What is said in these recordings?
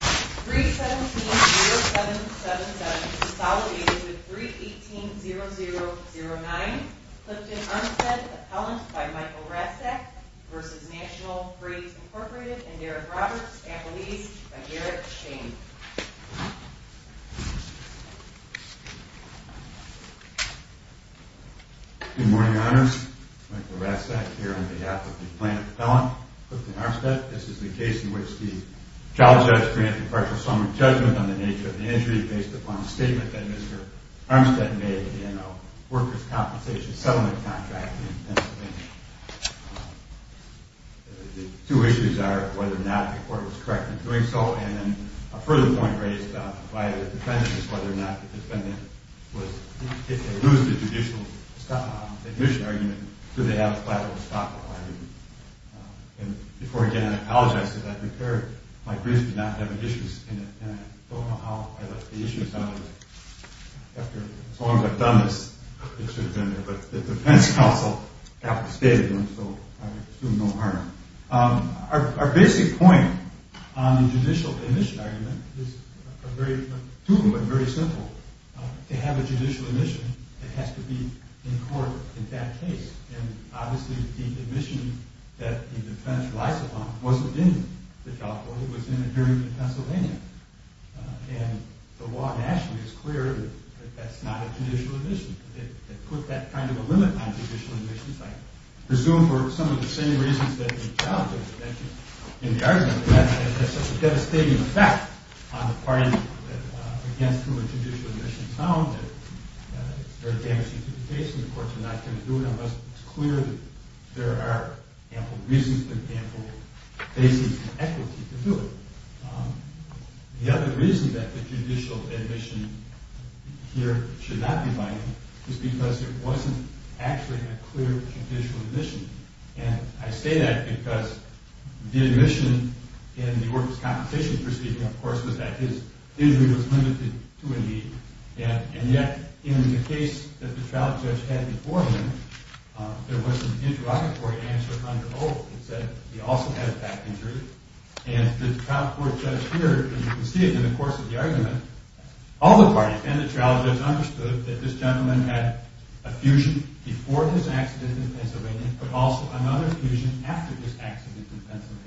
317-0777, consolidated with 318-0009. Clifton-Armstead Appellant by Michael Ratzak v. National Freight, Inc. and Derek Roberts, Appellees by Derek Shane. Good morning, Your Honors. Michael Ratzak here on behalf of the Appellant, Clifton-Armstead. This is the case in which the trial judge granted partial summary judgment on the nature of the injury based upon a statement that Mr. Armstead made in a workers' compensation settlement contract in Pennsylvania. The two issues are whether or not the court was correct in doing so, and then a further point raised by the defendant is whether or not the defendant was, if they lose the judicial admission argument, do they have a collateral stop? And before I get in, I apologize that I prepared. My brief did not have any issues in it, and I don't know how I left the issues out of it. As long as I've done this, it should have been there, but the defense counsel confiscated them, so I assume no harm. Our basic point on the judicial admission argument is very simple. To have a judicial admission, it has to be in court in that case, and obviously the admission that the defense relies upon wasn't in the California, it was in Pennsylvania. And the law nationally is clear that that's not a judicial admission. They put that kind of a limit on judicial admissions, I presume for some of the same reasons that the trial judge mentioned in the argument. It's clear that there are ample reasons and ample basis and equity to do it. The other reason that the judicial admission here should not be violated is because there wasn't actually a clear judicial admission. And I say that because the admission in the Orpus Compensation Procedure, of course, was that his injury was limited to a knee, and yet in the case that the trial judge had before him, there was an interrogatory answer under oath. It said he also had a back injury, and the trial court judge here, as you can see in the course of the argument, all the parties and the trial judge understood that this gentleman had a fusion before his accident in Pennsylvania, but also another fusion after his accident in Pennsylvania.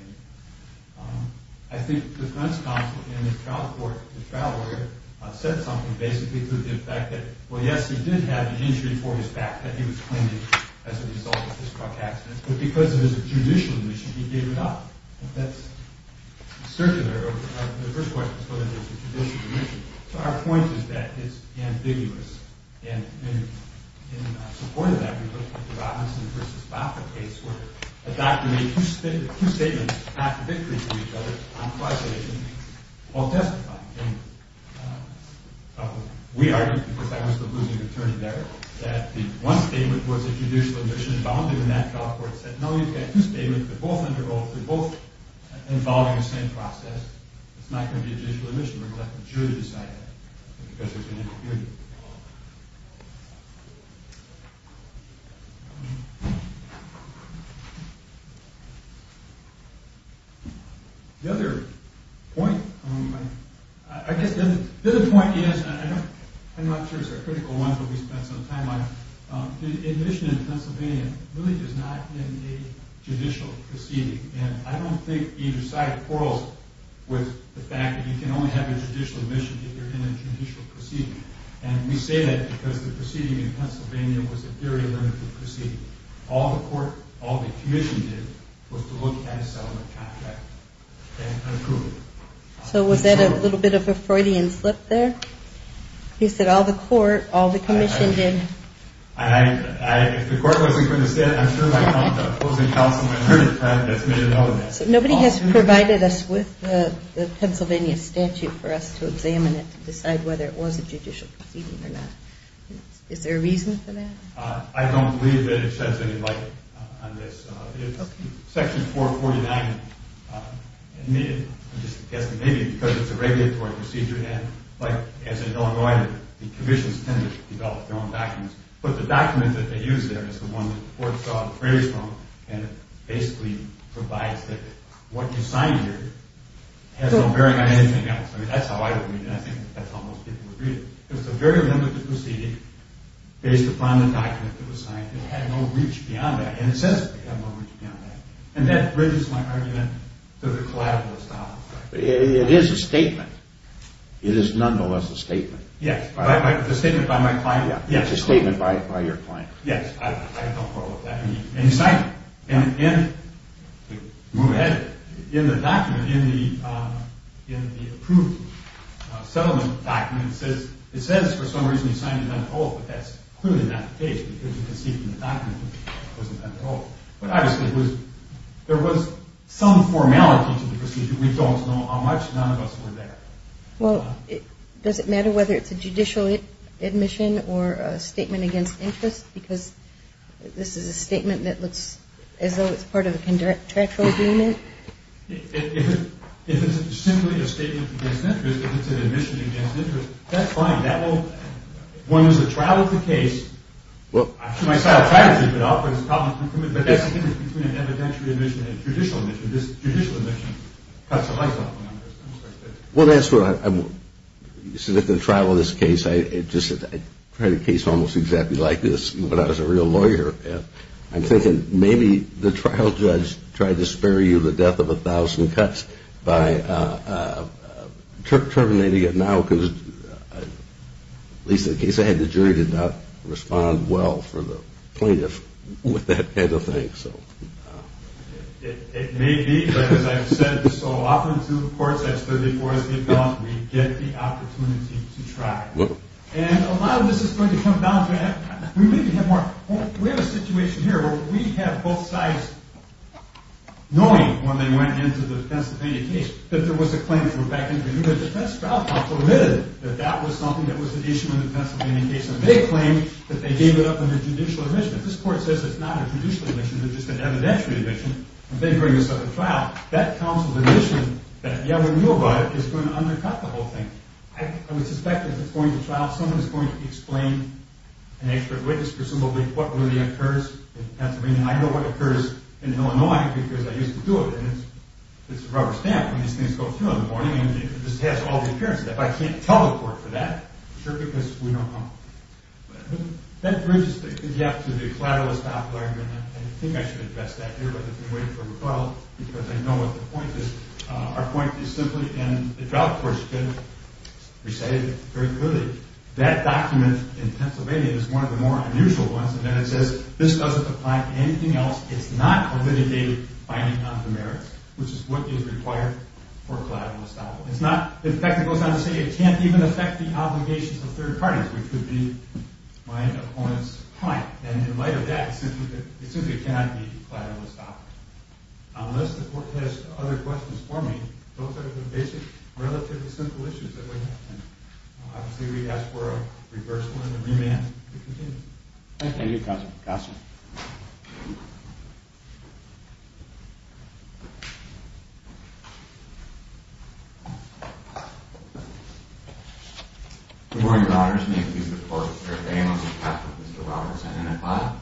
I think the defense counsel in the trial court, the trial lawyer, said something basically through the fact that, well, yes, he did have the injury before his back that he was claiming as a result of his truck accident, but because it was a judicial admission, he gave it up. That's circular. The first question is whether there's a judicial admission. So our point is that it's ambiguous, and in support of that, we looked at the Robinson v. Baffin case where a doctor made two statements after victory for each other on five days, all testifying. We argued, because I was the losing attorney there, that the one statement was a judicial admission, but I'm doing that trial court said, no, you've got two statements. They're both under oath. They're both involving the same process. It's not going to be a judicial admission. We're going to have the jury decide that because there's an ambiguity. The other point is, I'm not sure it's a critical one, but we spent some time on it. The admission in Pennsylvania really does not mandate a judicial proceeding, and I don't think either side quarrels with the fact that you can only have a judicial admission if you're in a judicial proceeding. And we say that because the proceeding in Pennsylvania was a jury-limited proceeding. All the court, all the commission did was to look at a settlement contract and approve it. So was that a little bit of a Freudian slip there? You said all the court, all the commission did? If the court wasn't going to say it, I'm sure my opposing counsel would have heard it. Nobody has provided us with the Pennsylvania statute for us to examine it to decide whether it was a judicial proceeding or not. Is there a reason for that? I don't believe that it says anything on this. It's Section 449 because it's a regulatory procedure, and as in Illinois, the commissions tend to develop their own documents. But the document that they use there is the one that the court saw the phrase from, and it basically provides that what you sign here has no bearing on anything else. I mean, that's how I would read it, and I think that's how most people would read it. It's a jury-limited proceeding based upon the document that was signed. It had no reach beyond that, and it says it had no reach beyond that. And that bridges my argument to the collateralist office. It is a statement. It is nonetheless a statement. Yes, the statement by my client. It's a statement by your client. Yes, I don't know about that. In the document, in the approved settlement document, it says for some reason you signed it on hold, but that's clearly not the case because you can see from the document it wasn't on hold. But obviously there was some formality to the procedure. We don't know how much. None of us were there. Well, does it matter whether it's a judicial admission or a statement against interest? Because this is a statement that looks as though it's part of a contractual agreement. If it's simply a statement against interest, if it's an admission against interest, that's fine. When there's a trial of the case, I should myself try to keep it up, but that's the difference between an evidentiary admission and a judicial admission. This judicial admission cuts the lights off. Well, that's what I'm, since it's a trial of this case, I tried a case almost exactly like this when I was a real lawyer. I'm thinking maybe the trial judge tried to spare you the death of a thousand cuts by terminating it now because, at least in the case I had, the jury did not respond well for the plaintiff with that kind of thing. It may be, but as I've said so often to the courts, we get the opportunity to try. And a lot of this is going to come down to, we maybe have more, we have a situation here where we have both sides knowing when they went into the Pennsylvania case that there was a claim that went back into the case. The defense trial counsel admitted that that was something that was an issue in the Pennsylvania case, and they claim that they gave it up under judicial admission. This court says it's not a judicial admission, it's just an evidentiary admission, and they bring this up at trial. That counsel's admission that you ever knew about it is going to undercut the whole thing. I would suspect at the point of trial, someone is going to explain, an expert witness presumably, what really occurs in Pennsylvania. I know what occurs in Illinois because I used to do it, and it's a rubber stamp when these things go through in the morning, and it just has all the appearances. If I can't tell the court for that, sure, because we don't know. That brings us to the collateral estoppel argument. I think I should address that here, but I've been waiting for a rebuttal because I know what the point is. Our point is simply, and the trial court should say it very clearly, that document in Pennsylvania is one of the more unusual ones. And then it says, this doesn't apply to anything else. It's not a litigated binding on the merits, which is what is required for collateral estoppel. In fact, it goes on to say it can't even affect the obligations of third parties, which would be my opponent's client. And in light of that, it simply cannot be collateral estoppel. Unless the court has other questions for me, those are the basic, relatively simple issues that we have. Obviously, we'd ask for a reversal and a remand to continue. Thank you, counsel. Counselor. Good morning, Your Honors. May it please the court that Sarah Bain on behalf of Mr. Roberts and Anna Clyde.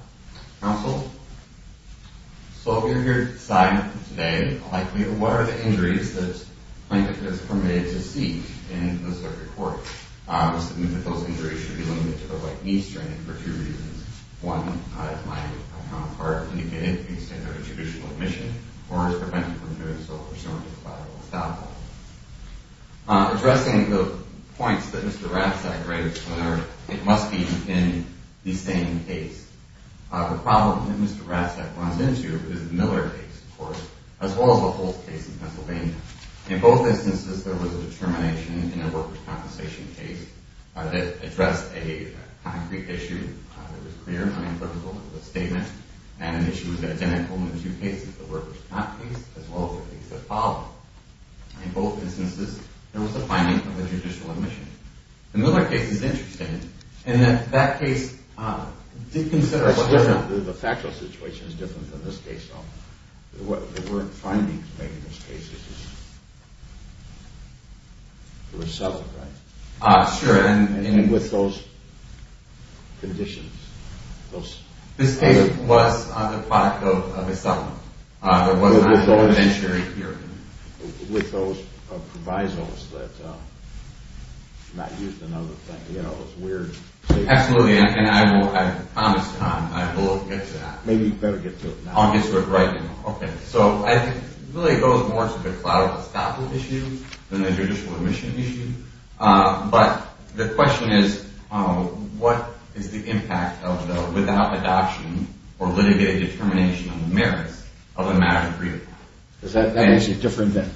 Counsel. So we are here to decide today, likely, what are the injuries that plaintiff is permitted to seek in the circuit court. I will submit that those injuries should be limited to the right knee strain for two reasons. One, as my counterpart indicated, could extend their judicial admission or prevent them from doing so pursuant to collateral estoppel. Addressing the points that Mr. Ratzak raised, it must be in the same case. The problem that Mr. Ratzak runs into is the Miller case, of course, as well as the Holtz case in Pennsylvania. In both instances, there was a determination in a worker's compensation case that addressed a concrete issue. It was clear, unimplicable, it was a statement. And the issue was identical in the two cases, the worker's not case as well as the case that followed. In both instances, there was a finding of a judicial admission. The Miller case is interesting in that that case did consider... The factual situation is different than this case, though. There weren't findings made in this case. It was settled, right? Sure. And with those conditions, those... This case was the product of a settlement. With those provisos that not used another thing, you know, those weird... Absolutely. And I promise, Tom, I will get to that. Maybe you better get to it now. I'll get to it right now. Okay. So I think it really goes more to the collateral estoppel issue than the judicial admission issue. But the question is, what is the impact of the without adoption or litigated determination on the merits of a matter of freedom? Because that makes it different than...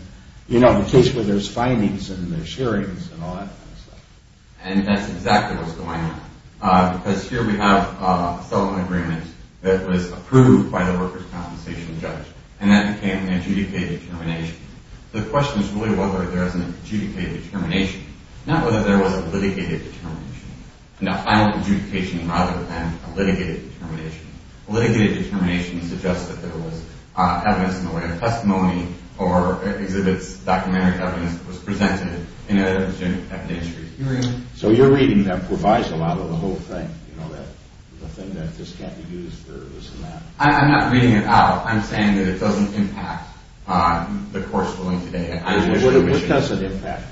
You know, the case where there's findings and there's hearings and all that kind of stuff. And that's exactly what's going on. Because here we have a settlement agreement that was approved by the worker's compensation judge. And that became an adjudicated determination. The question is really whether there is an adjudicated determination, not whether there was a litigated determination, a final adjudication rather than a litigated determination. A litigated determination suggests that there was evidence in the way a testimony or exhibits documentary evidence was presented in an adjudicated determination. So you're reading that proviso out of the whole thing, you know, the thing that this can't be used for this and that. I'm not reading it out. I'm saying that it doesn't impact the court's ruling today. What does it impact?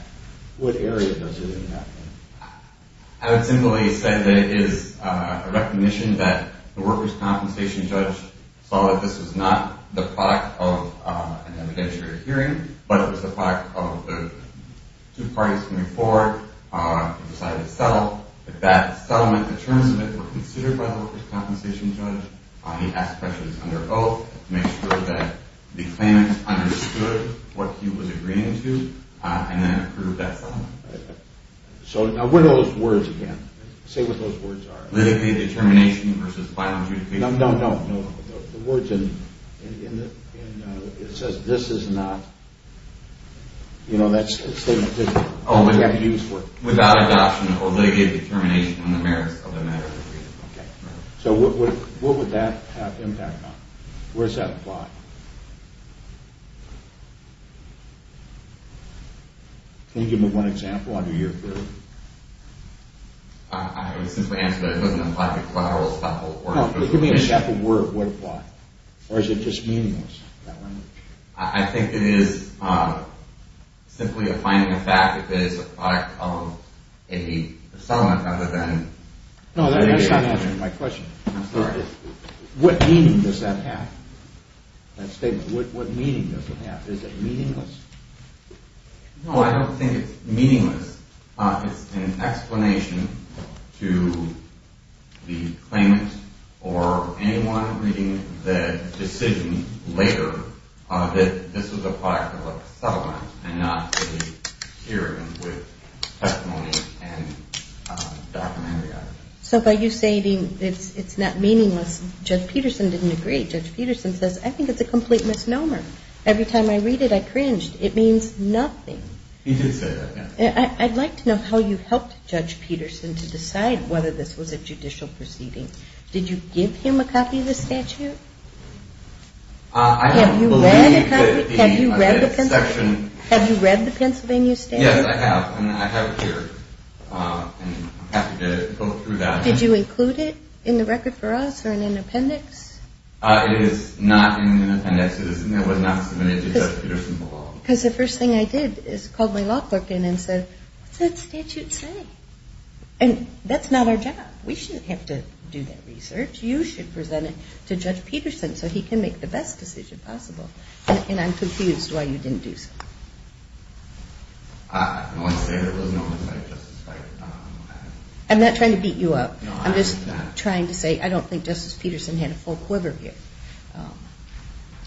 What area does it impact? I would simply say that it is a recognition that the worker's compensation judge saw that this was not the product of an evidentiary hearing, but it was the product of the two parties coming forward and decided to settle. That settlement, the terms of it were considered by the worker's compensation judge. He asked questions under oath to make sure that the claimants understood what he was agreeing to and then approved that settlement. So what are those words again? Say what those words are. Litigated determination versus final adjudication. No, no, no. The words in it says this is not. You know, that's just what you have to use for it. Without adoption of litigated determination on the merits of the matter. So what would that have impact on? Where does that apply? Can you give me one example? I'll do your proof. I would simply answer that it doesn't apply to collateral, supplemental, or... No, give me a supplemental word. What would it apply? Or is it just meaningless? I think it is simply a finding of fact that it is a product of a settlement other than... No, that's not answering my question. I'm sorry. What meaning does that have? That statement. What meaning does it have? Is it meaningless? No, I don't think it's meaningless. It's an explanation to the claimant or anyone reading the decision later that this was a product of a settlement and not a hearing with testimony and documentary evidence. So by you saying it's not meaningless, Judge Peterson didn't agree. Judge Peterson says, I think it's a complete misnomer. Every time I read it, I cringed. It means nothing. He did say that, yes. I'd like to know how you helped Judge Peterson to decide whether this was a judicial proceeding. Did you give him a copy of the statute? I don't believe that the section... Have you read the Pennsylvania statute? Yes, I have. I have it here. I'm happy to go through that. Did you include it in the record for us or in an appendix? It is not in the appendix. It was not submitted to Judge Peterson. Because the first thing I did is called my law clerk in and said, what's that statute say? And that's not our job. We shouldn't have to do that research. You should present it to Judge Peterson so he can make the best decision possible. And I'm confused why you didn't do so. I'm not trying to beat you up. I'm just trying to say I don't think Justice Peterson had a full quiver here.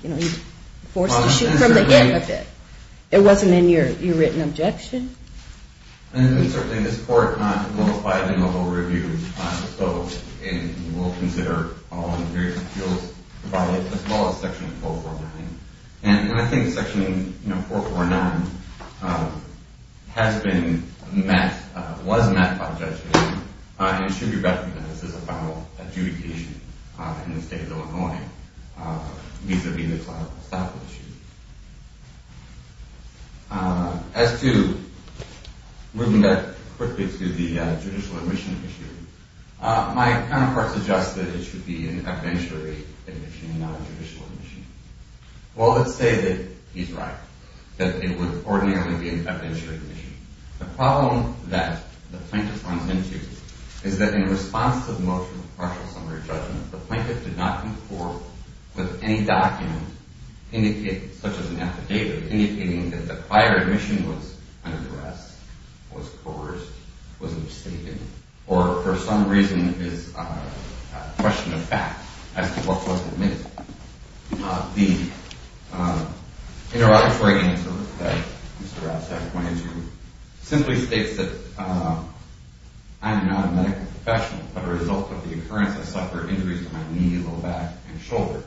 You know, he was forced to shoot from the hip a bit. It wasn't in your written objection. And certainly this court will abide by the noble review. And we'll consider all the various appeals provided as well as section 449. And I think section 449 has been met, was met by Judge Peterson. And it should be recommended that this is a final adjudication in the state of Illinois, vis-à-vis the clerical staff issue. As to moving back quickly to the judicial admission issue, my counterpart suggests that it should be an evidentiary admission and not a judicial admission. Well, let's say that he's right, that it would ordinarily be an evidentiary admission. The problem that the plaintiff runs into is that in response to the motion of partial summary judgment, the plaintiff did not conform with any document, such as an affidavit, indicating that the prior admission was unaddressed, was coerced, was mistaken, or for some reason is a question of fact as to what was admitted. The interrogatory answer that Mr. Rastak went into simply states that I'm not a medical professional, but a result of the occurrence I suffered injuries to my knee, low back, and shoulder.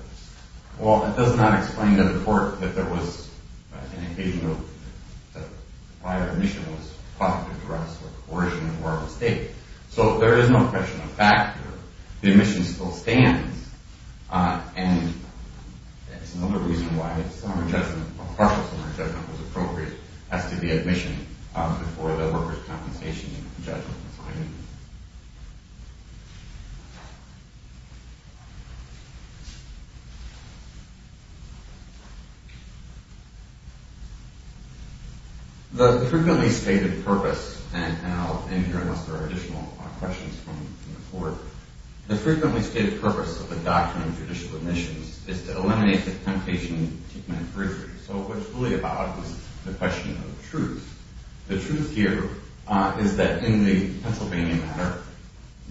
Well, that does not explain to the court that there was an occasion where the prior admission was caused to address or coercion or a mistake. So there is no question of fact here. The admission still stands. And that's another reason why a partial summary judgment was appropriate as to the admission before the workers' compensation judgment. The frequently stated purpose, and I'll end here unless there are additional questions from the court. The frequently stated purpose of the document of judicial admissions is to eliminate the temptation to commit perjury. So what it's really about is the question of truth. The truth here is that in the Pennsylvania matter,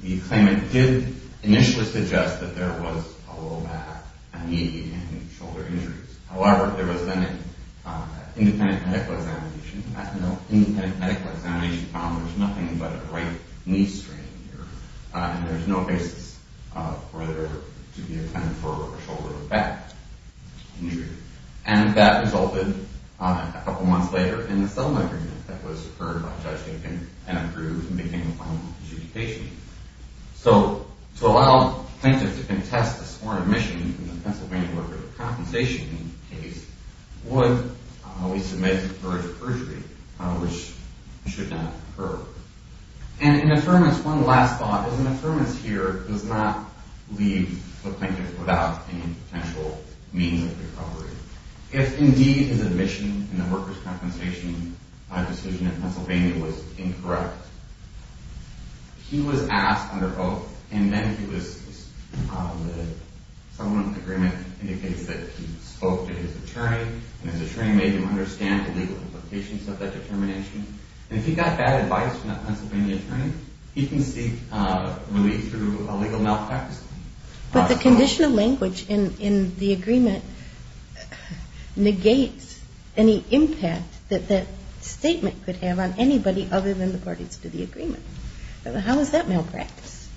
the claimant did initially suggest that there was a low back, a knee, and shoulder injuries. However, there was then an independent medical examination. An independent medical examination found there was nothing but a right knee strain here, and there's no basis for there to be a tendon for a shoulder or back injury. And that resulted, a couple months later, in a settlement agreement that was deferred by Judge Lincoln and approved and became a final adjudication. So to allow plaintiffs to contest a sworn admission in the Pennsylvania workers' compensation case, would we submit for perjury, which should not occur. And in affirmance, one last thought. As an affirmance here, does not leave the plaintiff without any potential means of recovery. If indeed his admission in the workers' compensation decision in Pennsylvania was incorrect, he was asked under oath, and then he was submitted. The settlement agreement indicates that he spoke to his attorney, and his attorney made him understand the legal implications of that determination. And if he got bad advice from that Pennsylvania attorney, he can seek relief through a legal malpractice. But the conditional language in the agreement negates any impact that that statement could have on anybody other than the parties to the agreement. How is that malpractice?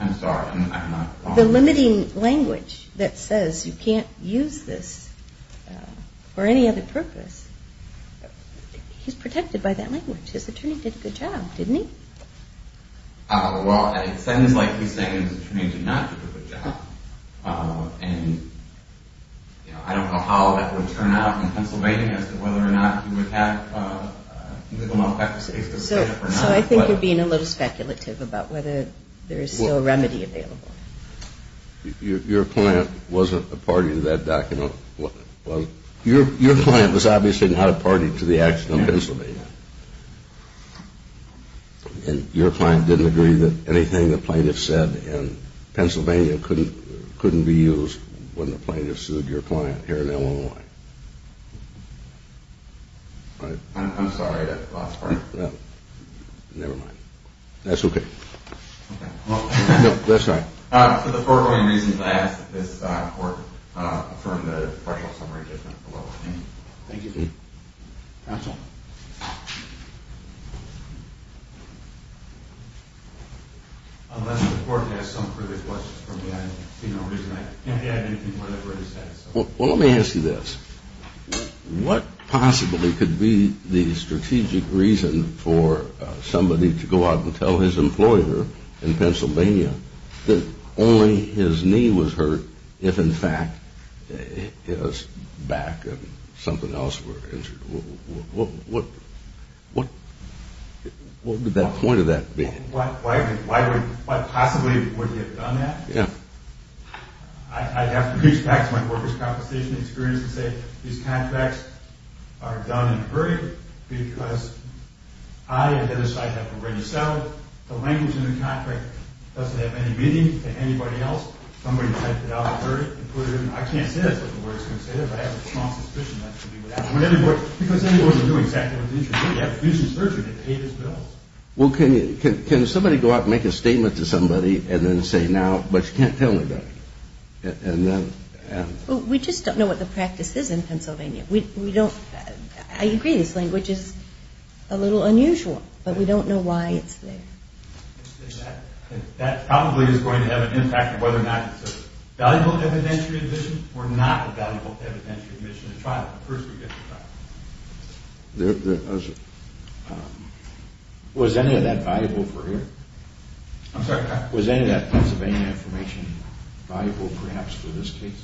I'm sorry, I'm not. The limiting language that says you can't use this for any other purpose, he's protected by that language. His attorney did a good job, didn't he? Well, it sounds like he's saying his attorney did not do a good job. And, you know, I don't know how that would turn out in Pennsylvania as to whether or not he would have legal malpractices to stand up or not. So I think you're being a little speculative about whether there is still a remedy available. Your client wasn't a party to that document. Your client was obviously not a party to the action in Pennsylvania. And your client didn't agree that anything the plaintiff said in Pennsylvania couldn't be used when the plaintiff sued your client here in Illinois. All right. I'm sorry, I lost my... Never mind. That's okay. Okay. No, that's all right. For the foregoing reasons, I ask that this court affirm the threshold summary judgment below. Thank you, sir. Counsel? Unless the court has some further questions for me, I don't see no reason I can't add anything further for this case. Well, let me ask you this. What possibly could be the strategic reason for somebody to go out and tell his employer in Pennsylvania that only his knee was hurt if, in fact, his back and something else were injured? What would that point of that be? Why possibly would he have done that? Yeah. I have to pitch back to my workers' compensation experience and say, these contracts are done in a hurry because I identified that from where you settled. The language in the contract doesn't have any meaning to anybody else. Somebody typed it out in a hurry and put it in. I can't say that's what the lawyer is going to say that, but I have a small suspicion that could be what happened. Because anybody would know exactly what the injury was. He had a fusion surgery and he paid his bills. Well, can somebody go out and make a statement to somebody and then say now, but you can't tell me that? We just don't know what the practice is in Pennsylvania. We don't – I agree this language is a little unusual, but we don't know why it's there. That probably is going to have an impact on whether or not it's a valuable evidentiary admission or not a valuable evidentiary admission in the trial, the first week of the trial. Was any of that valuable for here? I'm sorry? Was any of that Pennsylvania information valuable perhaps for this case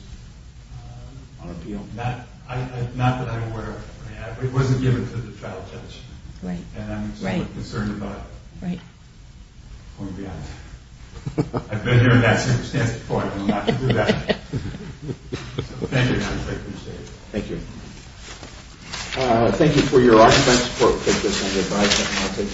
on appeal? Not that I'm aware of. It wasn't given to the trial judge. Right. And I'm somewhat concerned about going beyond. I've been here in that circumstance before. I will not do that. Thank you. I appreciate it. Thank you. Thank you for your audience. Thank you for participating.